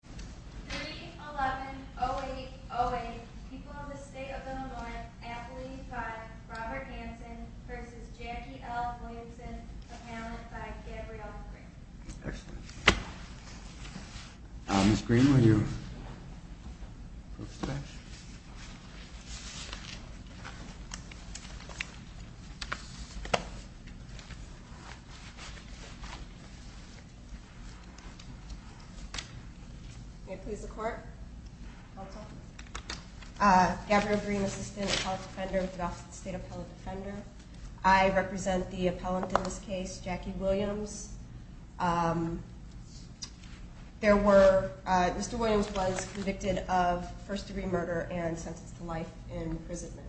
3-11-08-08 People in the State of Illinois amplified by Robert Hanson v. Jackie L. Williamson, a panelist by Gabrielle Green I represent the appellant in this case, Jackie Williams. Mr. Williams was convicted of first degree murder and sentenced to life in imprisonment.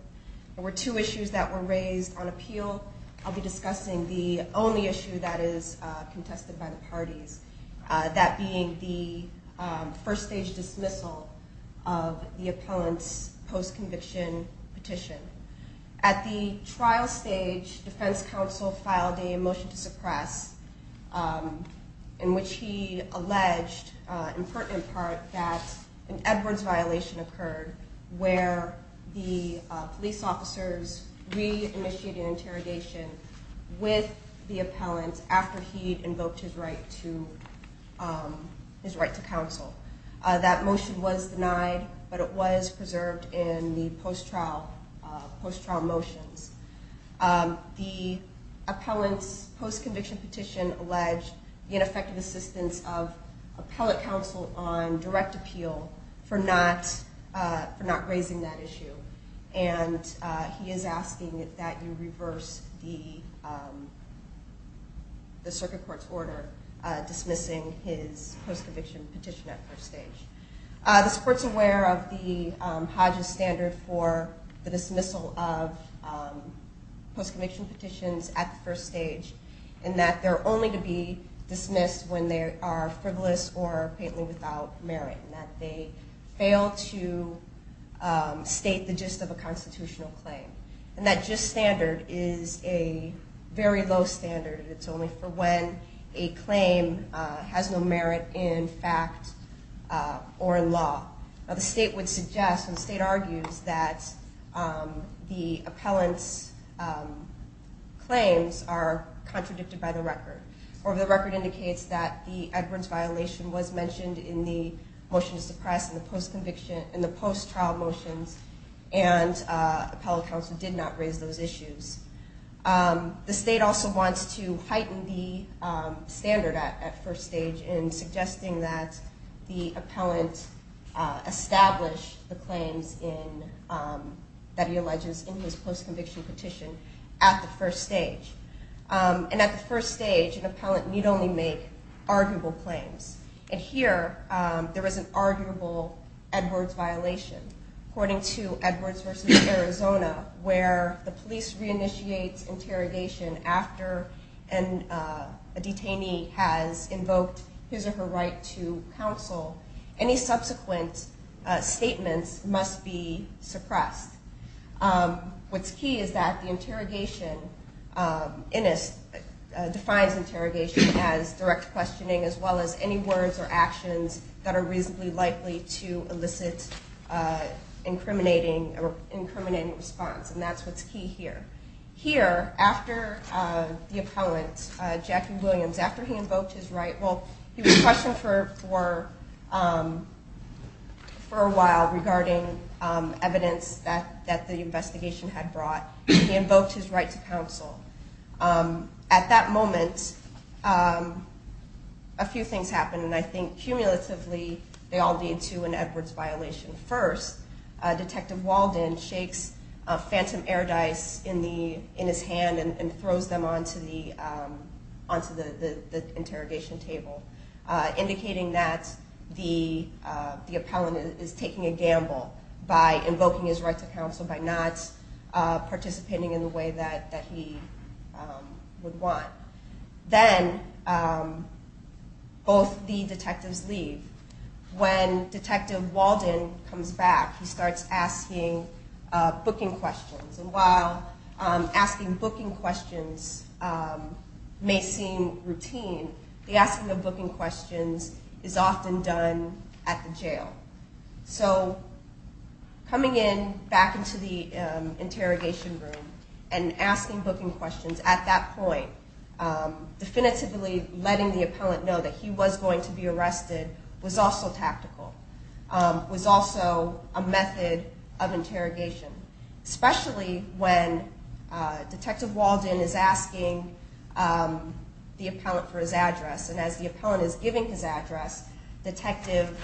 There were two issues that were raised on appeal. I'll be discussing the only issue that is contested by the parties, that being the first stage dismissal of the appellant's post-conviction petition. At the trial stage, defense counsel filed a motion to suppress in which he alleged, in pertinent part, that an Edwards violation occurred where the police officers re-initiated post-trial motions. The appellant's post-conviction petition alleged ineffective assistance of appellate counsel on direct appeal for not raising that issue. And he is asking that you reverse the circuit court's order dismissing his post-conviction petition at first stage. The court is aware of the Hodge's standard for the dismissal of post-conviction petitions at the first stage and that they're only to be dismissed when they are frivolous or faintly without merit and that they fail to state the gist of a constitutional claim. And that gist standard is a very low standard. It's only for when a claim has no merit in fact or in law. The state would suggest, and the state argues, that the appellant's claims are contradicted by the record. Or the record indicates that the Edwards violation was mentioned in the motion to suppress in the post-trial motions and appellate counsel did not raise those issues. The state also wants to heighten the standard at first stage in suggesting that the appellant establish the claims that he alleges in his post-conviction petition at the first stage. And at the first stage an appellant need only make arguable claims. And here there is an arguable Edwards violation. According to Edwards v. Arizona, where the police reinitiates interrogation after a detainee has invoked his or her right to counsel, any subsequent statements must be suppressed. What's key is that the interrogation defines interrogation as direct questioning as well as any words or actions that are reasonably likely to elicit incriminating response. And that's what's key here. Here, after the appellant, Jackie Williams, after he invoked his right, well he was questioned for a while regarding evidence that the investigation had brought. He invoked his right to counsel. At that moment, a few things happened and I think cumulatively they all lead to an Edwards violation. First, Detective Walden shakes phantom air dice in his hand and throws them onto the interrogation table indicating that the appellant is taking a gamble by invoking his right to counsel, by not participating in the way that he would want. Then both the detectives leave. When Detective Walden comes back, he starts asking booking questions. And while asking booking questions may seem routine, the asking of booking questions is often done at the jail. So coming in back into the interrogation room and asking booking questions at that point, definitively letting the appellant know that he was going to be arrested was also tactical, was also a method of interrogation. Especially when Detective Walden is asking the appellant for his address and as the appellant is giving his address, Detective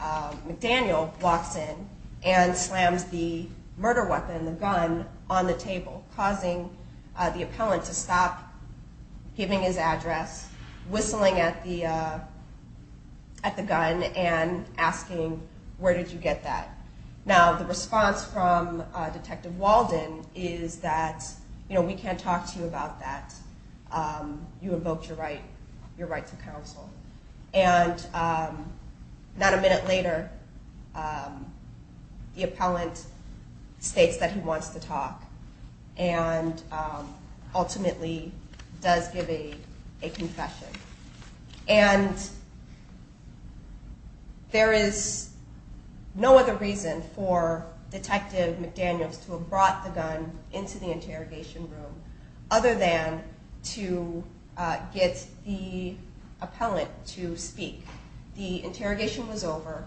McDaniel walks in and slams the murder weapon, the gun, on the table causing the appellant to stop giving his address, whistling at the gun and asking, where did you get that? Now the response from Detective Walden is that, you know, we can't talk to you about that. You invoked your right to counsel. And not a minute later, the appellant states that he wants to talk and ultimately does give a confession. And there is no other reason for Detective McDaniels to have brought the gun into the interrogation room other than to get the appellant to speak. The interrogation was over.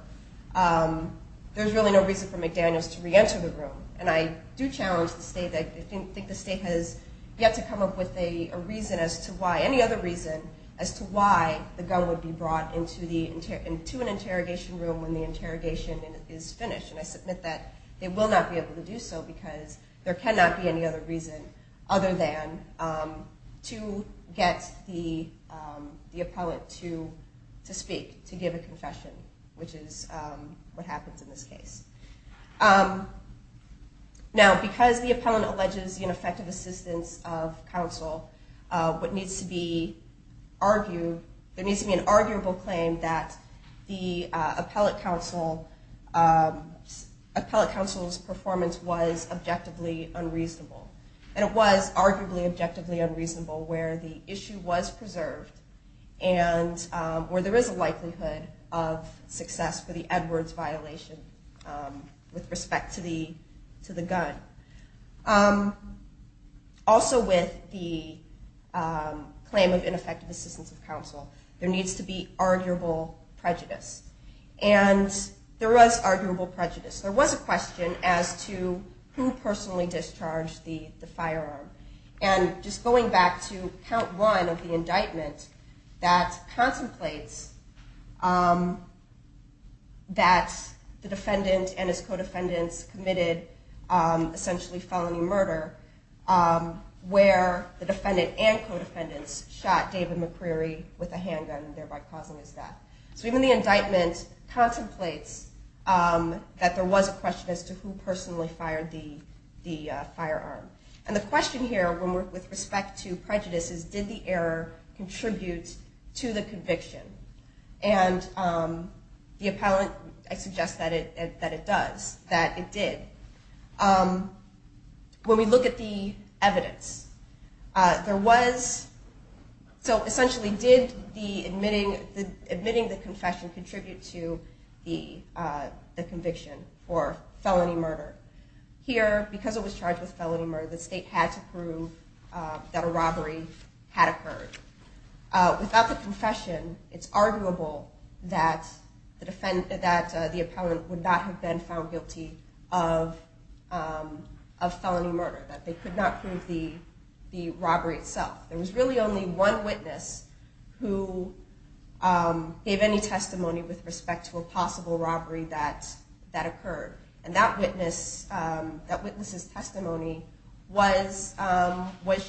There's really no reason for McDaniels to reenter the room. And I do challenge the state, I think the state has yet to come up with a reason as to why, any other reason as to why the gun would be brought into an interrogation room when the interrogation is finished. And I submit that they will not be able to do so because there cannot be any other reason other than to get the appellant to speak, to give a confession, which is what happens in this case. Now because the appellant alleges ineffective assistance of counsel, there needs to be an arguable claim that the appellant counsel's performance was objectively unreasonable. And it was arguably objectively unreasonable where the issue was preserved and where there is a likelihood of success for the Edwards violation with respect to the gun. Also with the claim of ineffective assistance of counsel, there needs to be arguable prejudice. And there was arguable prejudice. There was a question as to who personally discharged the firearm. And just going back to count one of the indictment, that contemplates that the defendant and his co-defendants committed essentially felony murder where the defendant and co-defendants shot David McCreary with a handgun, thereby causing his death. So even the indictment contemplates that there was a question as to who personally fired the firearm. And the question here with respect to prejudice is did the error contribute to the conviction? And the appellant, I suggest that it does, that it did. When we look at the evidence, there was, so essentially did admitting the confession contribute to the conviction for felony murder? Here, because it was charged with felony murder, the state had to prove that a robbery had occurred. Without the confession, it's arguable that the appellant would not have been found guilty of felony murder, that they could not prove the robbery itself. There was really only one witness who gave any testimony with respect to a possible robbery that occurred. And that witness's testimony was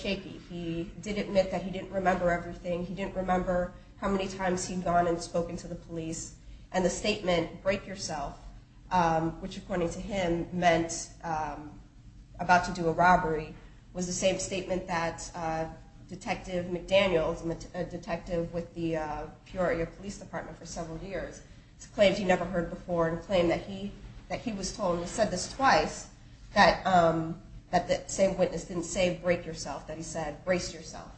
shaky. He did admit that he didn't remember everything. He didn't remember how many times he'd gone and spoken to the police. And the statement, break yourself, which according to him meant about to do a robbery, was the same statement that Detective McDaniels, a detective with the Peoria Police Department for several years, claimed he never heard before and claimed that he was told, and he said this twice, that the same witness didn't say break yourself, that he said brace yourself.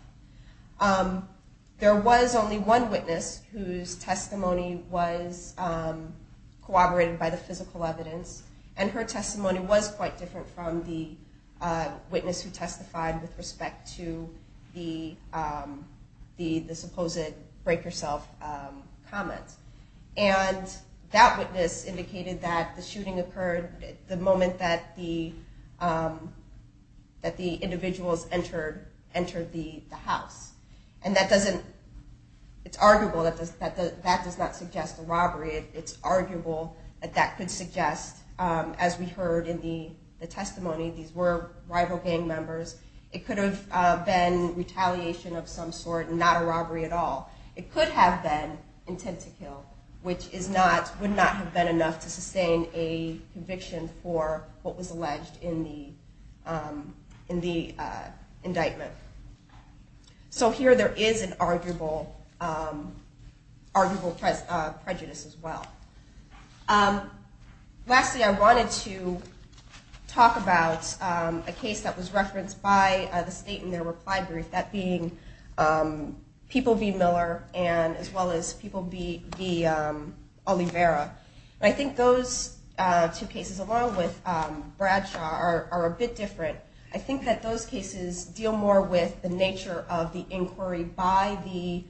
There was only one witness whose testimony was corroborated by the physical evidence, and her testimony was quite different from the witness who testified with respect to the supposed break yourself comment. And that witness indicated that the shooting occurred the moment that the individuals entered the house. And it's arguable that that does not suggest a robbery. It's arguable that that could suggest, as we heard in the testimony, these were rival gang members, it could have been retaliation of some sort and not a robbery at all. It could have been intent to kill, which would not have been enough to sustain a conviction for what was alleged in the indictment. So here there is an arguable prejudice as well. Lastly, I wanted to talk about a case that was referenced by the state in their reply brief, that being People v. Miller and as well as People v. Oliveira. And I think those two cases, along with Bradshaw, are a bit different. I think that those cases deal more with the nature of the inquiry by the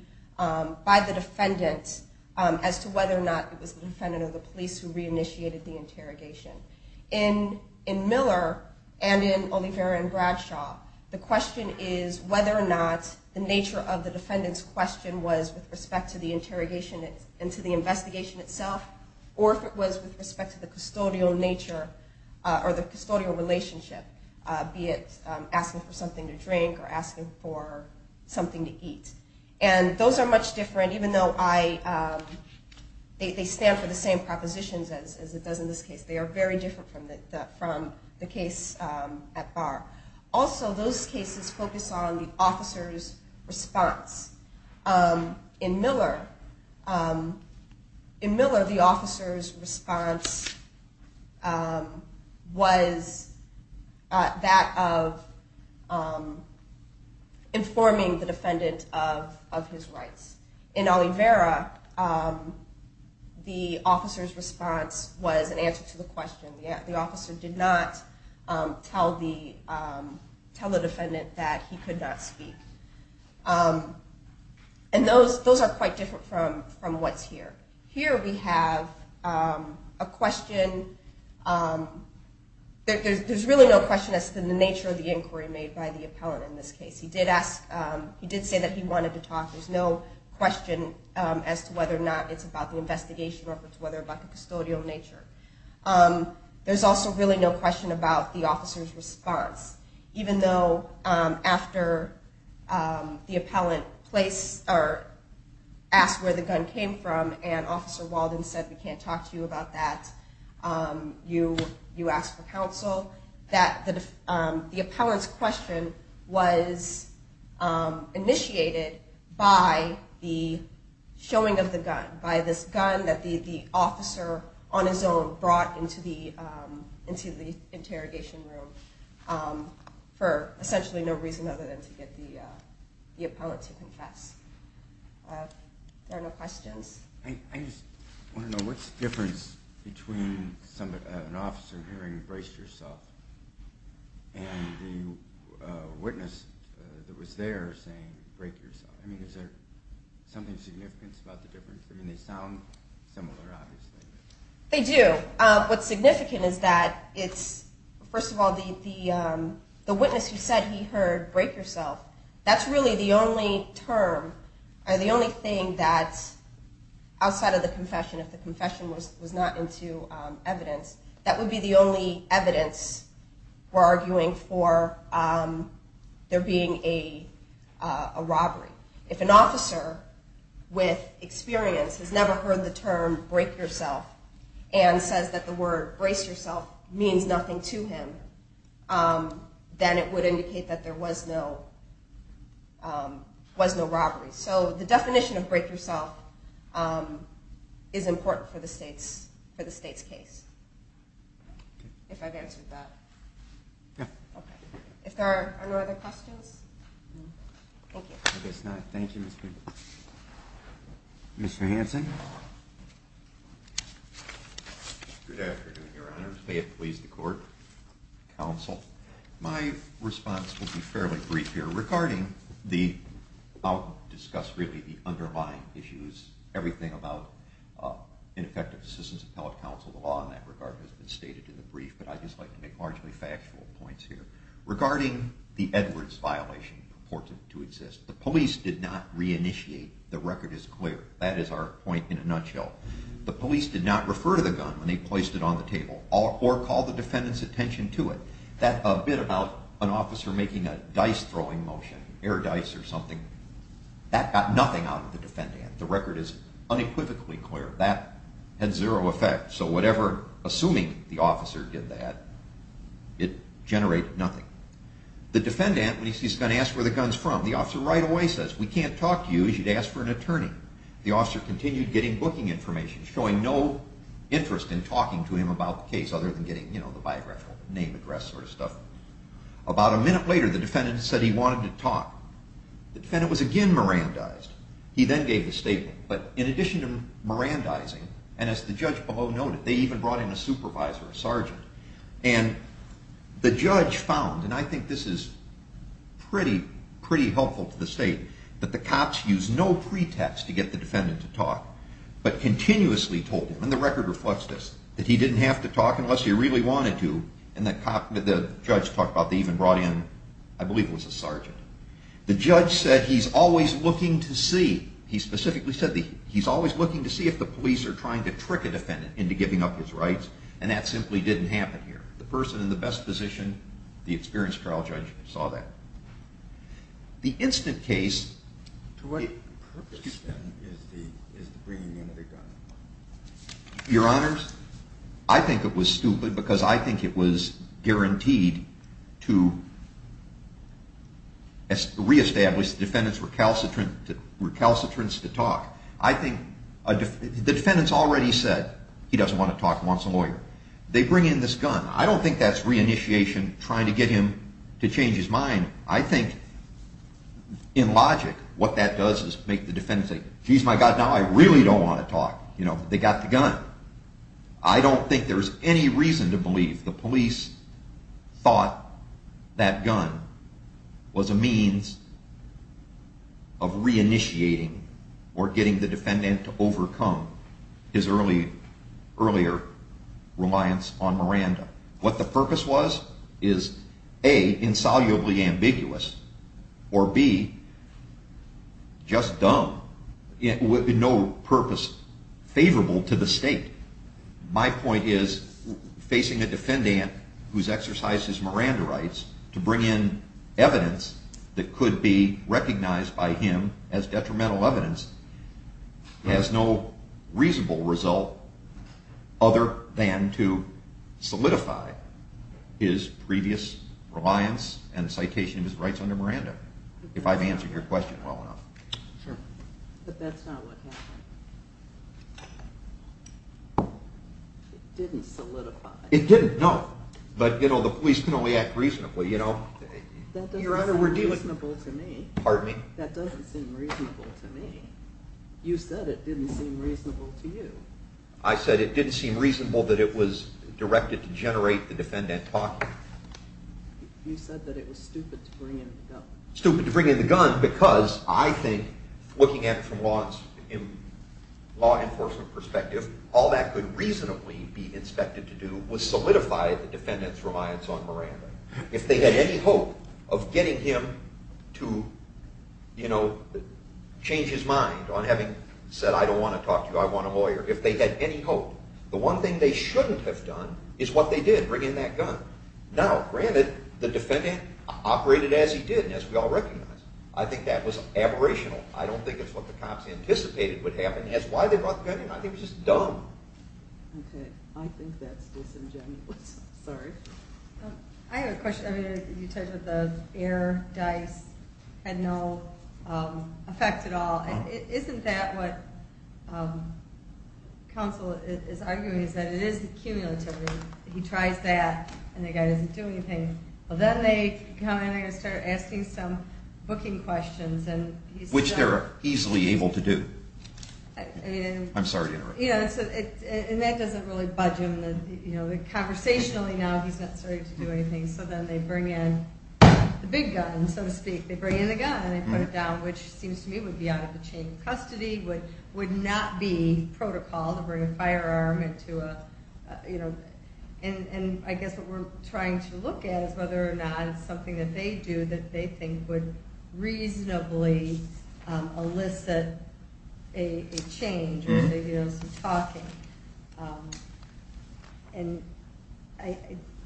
defendant as to whether or not it was the defendant or the police who reinitiated the interrogation. In Miller and in Oliveira and Bradshaw, the question is whether or not the nature of the defendant's question was with respect to the interrogation and to the investigation itself, or if it was with respect to the custodial nature or the custodial relationship, be it asking for something to drink or asking for something to eat. And those are much different, even though they stand for the same propositions as it does in this case. They are very different from the case at bar. Also, those cases focus on the officer's response. In Miller, the officer's response was that of informing the defendant of his rights. In Oliveira, the officer's response was an answer to the question. The officer did not tell the defendant that he could not speak. And those are quite different from what's here. Here we have a question. There's really no question as to the nature of the inquiry made by the appellant in this case. He did say that he wanted to talk. There's no question as to whether or not it's about the investigation or whether it's about the custodial nature. There's also really no question about the officer's response, even though after the appellant asked where the gun came from and Officer Walden said, we can't talk to you about that. You asked for counsel. The appellant's question was initiated by the showing of the gun, by this gun that the officer on his own brought into the interrogation room for essentially no reason other than to get the appellant to confess. There are no questions. I just want to know, what's the difference between an officer hearing brace yourself and the witness that was there saying break yourself? I mean, is there something significant about the difference? I mean, they sound similar, obviously. They do. What's significant is that it's, first of all, the witness who said he heard break yourself, that's really the only term or the only thing that's outside of the confession, if the confession was not into evidence, that would be the only evidence for arguing for there being a robbery. If an officer with experience has never heard the term break yourself and says that the word brace yourself means nothing to him, then it would indicate that there was no robbery. So the definition of break yourself is important for the state's case, if I've answered that. If there are no other questions, thank you. I guess not. Thank you, Mr. Hanson. Good afternoon, Your Honor. May it please the court, counsel. My response will be fairly brief here regarding the, I'll discuss really the underlying issues, everything about ineffective assistance appellate counsel, the law in that regard has been stated in the brief, but I'd just like to make largely factual points here. Regarding the Edwards violation purported to exist, the police did not reinitiate, the record is clear, that is our point in a nutshell. The police did not refer to the gun when they placed it on the table or call the defendant's attention to it. That bit about an officer making a dice-throwing motion, air dice or something, that got nothing out of the defendant. The record is unequivocally clear. That had zero effect, so whatever, assuming the officer did that, it generated nothing. The defendant, when he's going to ask where the gun's from, the officer right away says, we can't talk to you as you'd ask for an attorney. The officer continued getting booking information, showing no interest in talking to him about the case other than getting, you know, the biographical name address sort of stuff. About a minute later, the defendant said he wanted to talk. The defendant was again mirandized. He then gave the statement, but in addition to mirandizing, and as the judge below noted, they even brought in a supervisor, a sergeant. And the judge found, and I think this is pretty helpful to the state, that the cops used no pretext to get the defendant to talk, but continuously told him, and the record reflects this, that he didn't have to talk unless he really wanted to, and the judge talked about they even brought in, I believe it was a sergeant. The judge said he's always looking to see. He specifically said he's always looking to see if the police are trying to trick a defendant into giving up his rights, and that simply didn't happen here. The person in the best position, the experienced trial judge, saw that. The incident case, your honors, I think it was stupid, because I think it was guaranteed to reestablish the defendant's recalcitrance to talk. I think the defendant's already said he doesn't want to talk, he wants a lawyer. They bring in this gun. I don't think that's reinitiation, trying to get him to change his mind. I think, in logic, what that does is make the defendant say, geez, my God, now I really don't want to talk. You know, they got the gun. I don't think there's any reason to believe the police thought that gun was a means of reinitiating or getting the defendant to overcome his earlier, earlier, you know, guilt. Reliance on Miranda. What the purpose was, is A, insolubly ambiguous, or B, just dumb, with no purpose favorable to the state. My point is, facing a defendant who's exercised his Miranda rights to bring in evidence that could be recognized by him as detrimental evidence has no reasonable result other than to solidify his previous reliance and citation of his rights under Miranda, if I've answered your question well enough. But that's not what happened. It didn't solidify. It didn't, no. But, you know, the police can only act reasonably, you know. That doesn't seem reasonable to me. Pardon me? That doesn't seem reasonable to me. You said it didn't seem reasonable to you. I said it didn't seem reasonable that it was directed to generate the defendant talking. You said that it was stupid to bring in the gun. Stupid to bring in the gun because I think, looking at it from law enforcement perspective, all that could reasonably be expected to do was solidify the defendant's reliance on Miranda. If they had any hope of getting him to, you know, change his mind on having said, I don't want to talk to you, I want a lawyer, if they had any hope. The one thing they shouldn't have done is what they did, bring in that gun. Now, granted, the defendant operated as he did and as we all recognize. I think that was aberrational. I don't think it's what the cops anticipated would happen. That's why they brought the gun in. I think it was just dumb. Okay. I think that's disingenuous. Sorry. I have a question. You talked about the air dice had no effect at all. Isn't that what counsel is arguing is that it is the cumulativity. He tries that and the guy doesn't do anything. Then they come in and start asking some booking questions. Which they're easily able to do. I'm sorry to interrupt. And that doesn't really budge him. Conversationally now, he's not starting to do anything. So then they bring in the big gun, so to speak. They bring in the gun and they put it down, which seems to me would be out of the chain of custody. Would not be protocol to bring a firearm into a, you know. And I guess what we're trying to look at is whether or not it's something that they do that they think would reasonably elicit a change. And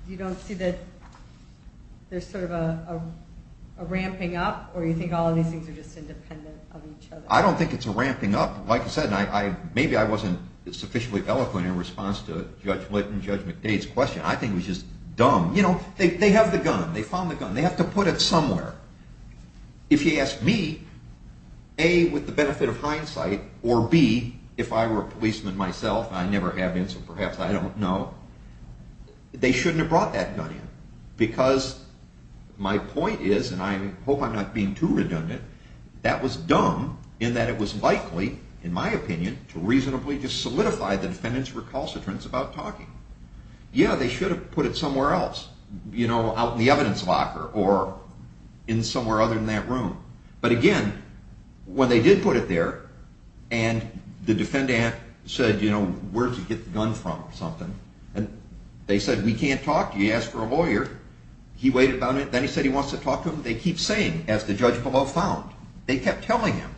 you don't see that there's sort of a ramping up or you think all of these things are just independent of each other. I don't think it's a ramping up. Like I said, maybe I wasn't sufficiently eloquent in response to Judge Linton, Judge McDade's question. I think it was just dumb. You know, they have the gun. They found the gun. They have to put it somewhere. If you ask me, A, with the benefit of hindsight, or B, if I were a policeman myself, and I never have been so perhaps I don't know, they shouldn't have brought that gun in. Because my point is, and I hope I'm not being too redundant, that was dumb in that it was likely, in my opinion, to reasonably just solidify the defendant's recalcitrance about talking. Yeah, they should have put it somewhere else, you know, out in the evidence locker or in somewhere other than that room. But again, when they did put it there, and the defendant said, you know, where'd you get the gun from or something, and they said, we can't talk to you. He asked for a lawyer. He waited about it. Then he said he wants to talk to him. They keep saying, as the judge below found, they kept telling him,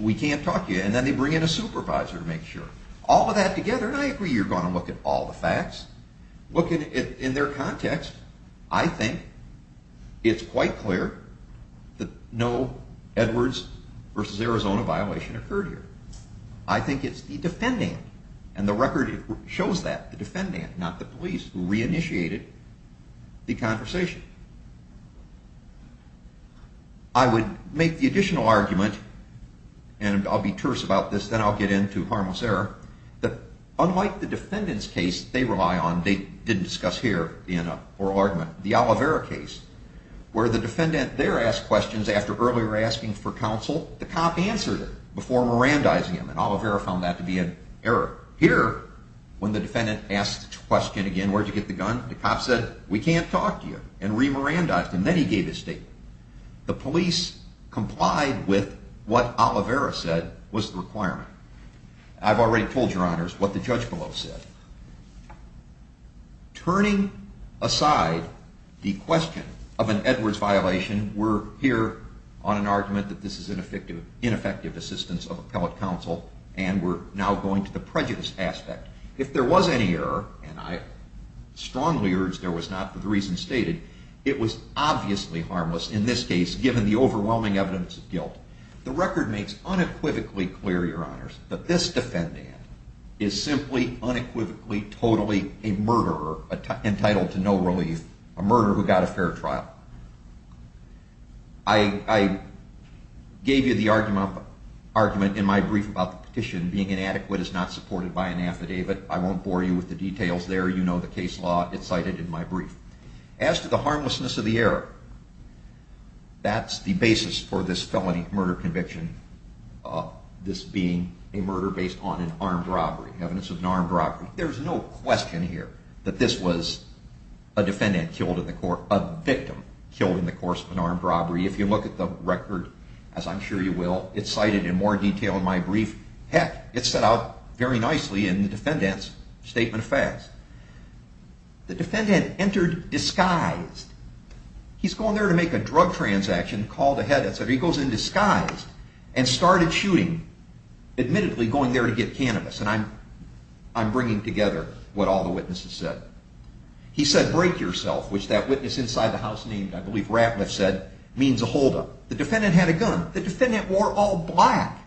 we can't talk to you. And then they bring in a supervisor to make sure. All of that together, and I agree you're going to look at all the facts, look at it in their context, I think it's quite clear that no Edwards versus Arizona violation occurred here. I think it's the defendant, and the record shows that, the defendant, not the police, who re-initiated the conversation. I would make the additional argument, and I'll be terse about this, then I'll get into harmless error, that unlike the defendant's case they rely on, they didn't discuss here in a oral argument, the Oliveira case, where the defendant there asked questions after earlier asking for counsel. The cop answered it before Mirandizing him, and Oliveira found that to be an error. Here, when the defendant asked the question again, where'd you get the gun, the cop said, we can't talk to you, and re-Mirandized him, then he gave his statement. The police complied with what Oliveira said was the requirement. I've already told your honors what the judge below said. Turning aside the question of an Edwards violation, we're here on an argument that this is ineffective assistance of appellate counsel, and we're now going to the prejudice aspect. If there was any error, and I strongly urge there was not, for the reasons stated, it was obviously harmless in this case, given the overwhelming evidence of guilt. The record makes unequivocally clear, your honors, that this defendant is simply, unequivocally, totally a murderer, entitled to no relief, a murderer who got a fair trial. I gave you the argument in my brief about the petition, being inadequate is not supported by an affidavit, I won't bore you with the details there, you know the case law, it's cited in my brief. As to the harmlessness of the error, that's the basis for this felony murder conviction, this being a murder based on an armed robbery, evidence of an armed robbery. There's no question here that this was a victim killed in the course of an armed robbery. If you look at the record, as I'm sure you will, it's cited in more detail in my brief. Heck, it's set out very nicely in the defendant's statement of facts. The defendant entered disguised, he's going there to make a drug transaction, called ahead, he goes in disguised and started shooting, admittedly going there to get cannabis, and I'm bringing together what all the witnesses said. He said, break yourself, which that witness inside the house named, I believe Ratliff said, means a hold up. The defendant had a gun, the defendant wore all black.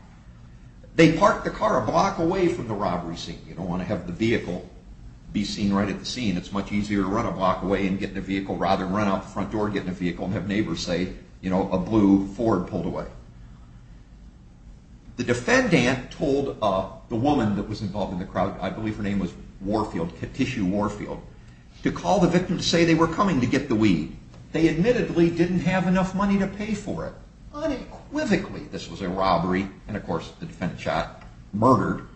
They parked the car a block away from the robbery scene, you don't want to have the vehicle be seen right at the scene, it's much easier to run a block away and get in a vehicle rather than run out the front door and get in a vehicle and have neighbors say, you know, a blue Ford pulled away. The defendant told the woman that was involved in the crowd, I believe her name was Warfield, Katishu Warfield, to call the victim to say they were coming to get the weed. They admittedly didn't have enough money to pay for it. Unequivocally, this was a robbery, and of course the defendant shot, murdered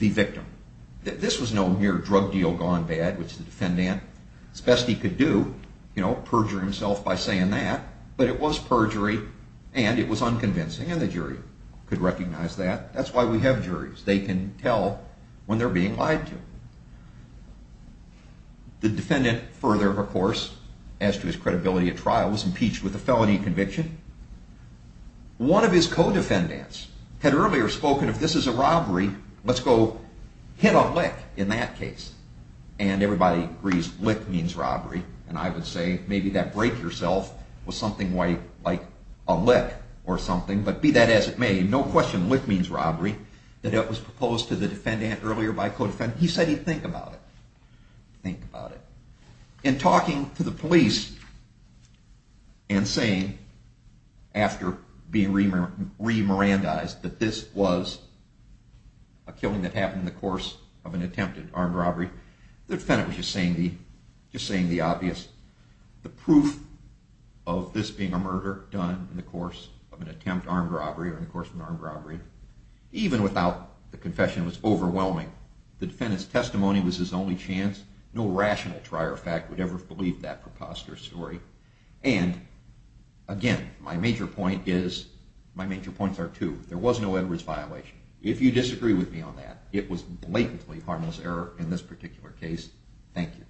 the victim. This was no mere drug deal gone bad, which the defendant, as best he could do, you know, perjure himself by saying that, but it was perjury, and it was unconvincing, and the jury could recognize that. That's why we have juries, they can tell when they're being lied to. The defendant further, of course, as to his credibility at trial, was impeached with a felony conviction. One of his co-defendants had earlier spoken, if this is a robbery, let's go hit a lick in that case. And everybody agrees, lick means robbery. And I would say, maybe that break yourself was something like a lick or something, but be that as it may, no question, lick means robbery, that it was proposed to the defendant earlier by a co-defendant. He said he'd think about it. Think about it. In talking to the police and saying, after being re-Mirandized, that this was a killing that happened in the course of an attempted armed robbery, the defendant was just saying the obvious. The proof of this being a murder done in the course of an attempted armed robbery, or in the course of an armed robbery, even without the confession, was overwhelming. The defendant's testimony was his only chance. No rational trier of fact would ever believe that preposterous story. And, again, my major point is, my major points are two. There was no Edwards violation. If you disagree with me on that, it was blatantly harmless error in this particular case. Thank you.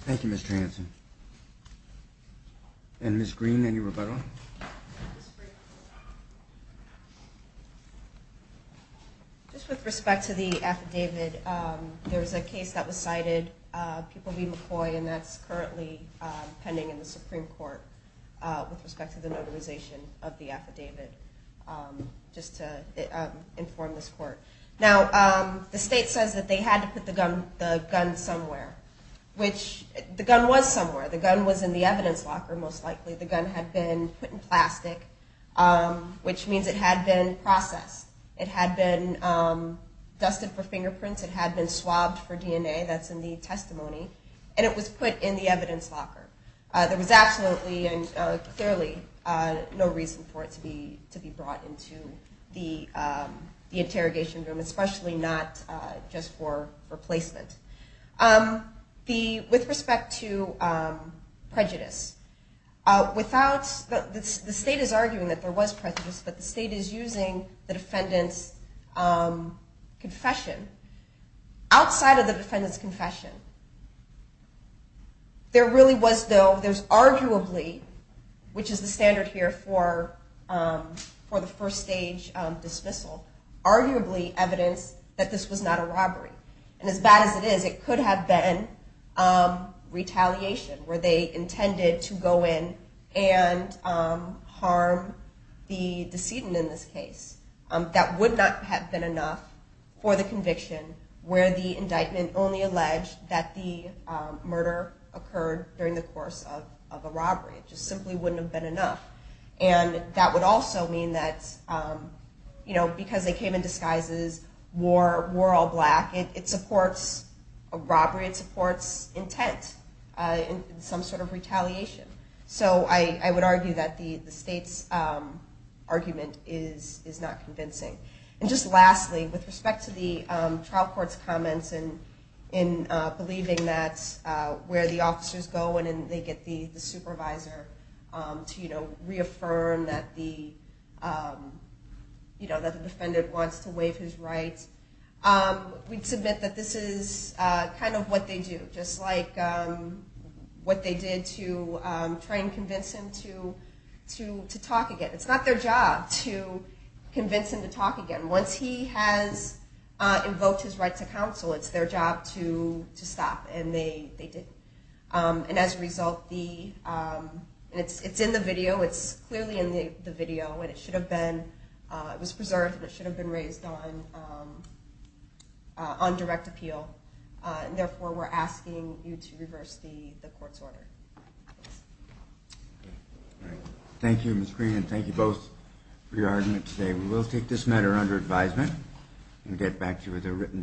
Thank you, Mr. Hanson. And Ms. Green, any rebuttal? Just with respect to the affidavit, there was a case that was cited, People v. McCoy, and that's currently pending in the Supreme Court with respect to the notarization of the affidavit, just to inform this court. Now, the state says that they had to put the gun somewhere, which the gun was somewhere. The gun was in the evidence locker, most likely. The gun had been put in plastic, which means it had been processed. It had been dusted for fingerprints. It had been swabbed for DNA. That's in the testimony. And it was put in the evidence locker. There was absolutely and clearly no reason for it to be brought into the interrogation room, especially not just for placement. With respect to prejudice, the state is arguing that there was prejudice, but the state is using the defendant's confession. Outside of the defendant's confession, there really was, though, there's arguably, which is the standard here for the first stage dismissal, arguably evidence that this was not a robbery. And as bad as it is, it could have been retaliation, where they intended to go in and harm the decedent in this case. That would not have been enough for the conviction, where the indictment only alleged that the murder occurred during the course of a robbery. It just simply wouldn't have been enough. And that would also mean that because they came in disguises, wore all black, it supports a robbery, it supports intent in some sort of retaliation. So I would argue that the state's argument is not convincing. And just lastly, with respect to the trial court's comments in believing that's where the officers go and they get the supervisor to reaffirm that the defendant wants to waive his rights, we'd submit that this is kind of what they do, just like what they did to try and convince him to talk again. It's not their job to convince him to talk again. Once he has invoked his right to counsel, it's their job to stop, and they didn't. And as a result, it's in the video, it's clearly in the video, and it should have been preserved and it should have been raised on direct appeal. And therefore, we're asking you to reverse the court's order. Thank you, Ms. Green, and thank you both for your argument today. We will take this matter under advisement and get back to you with a written decision.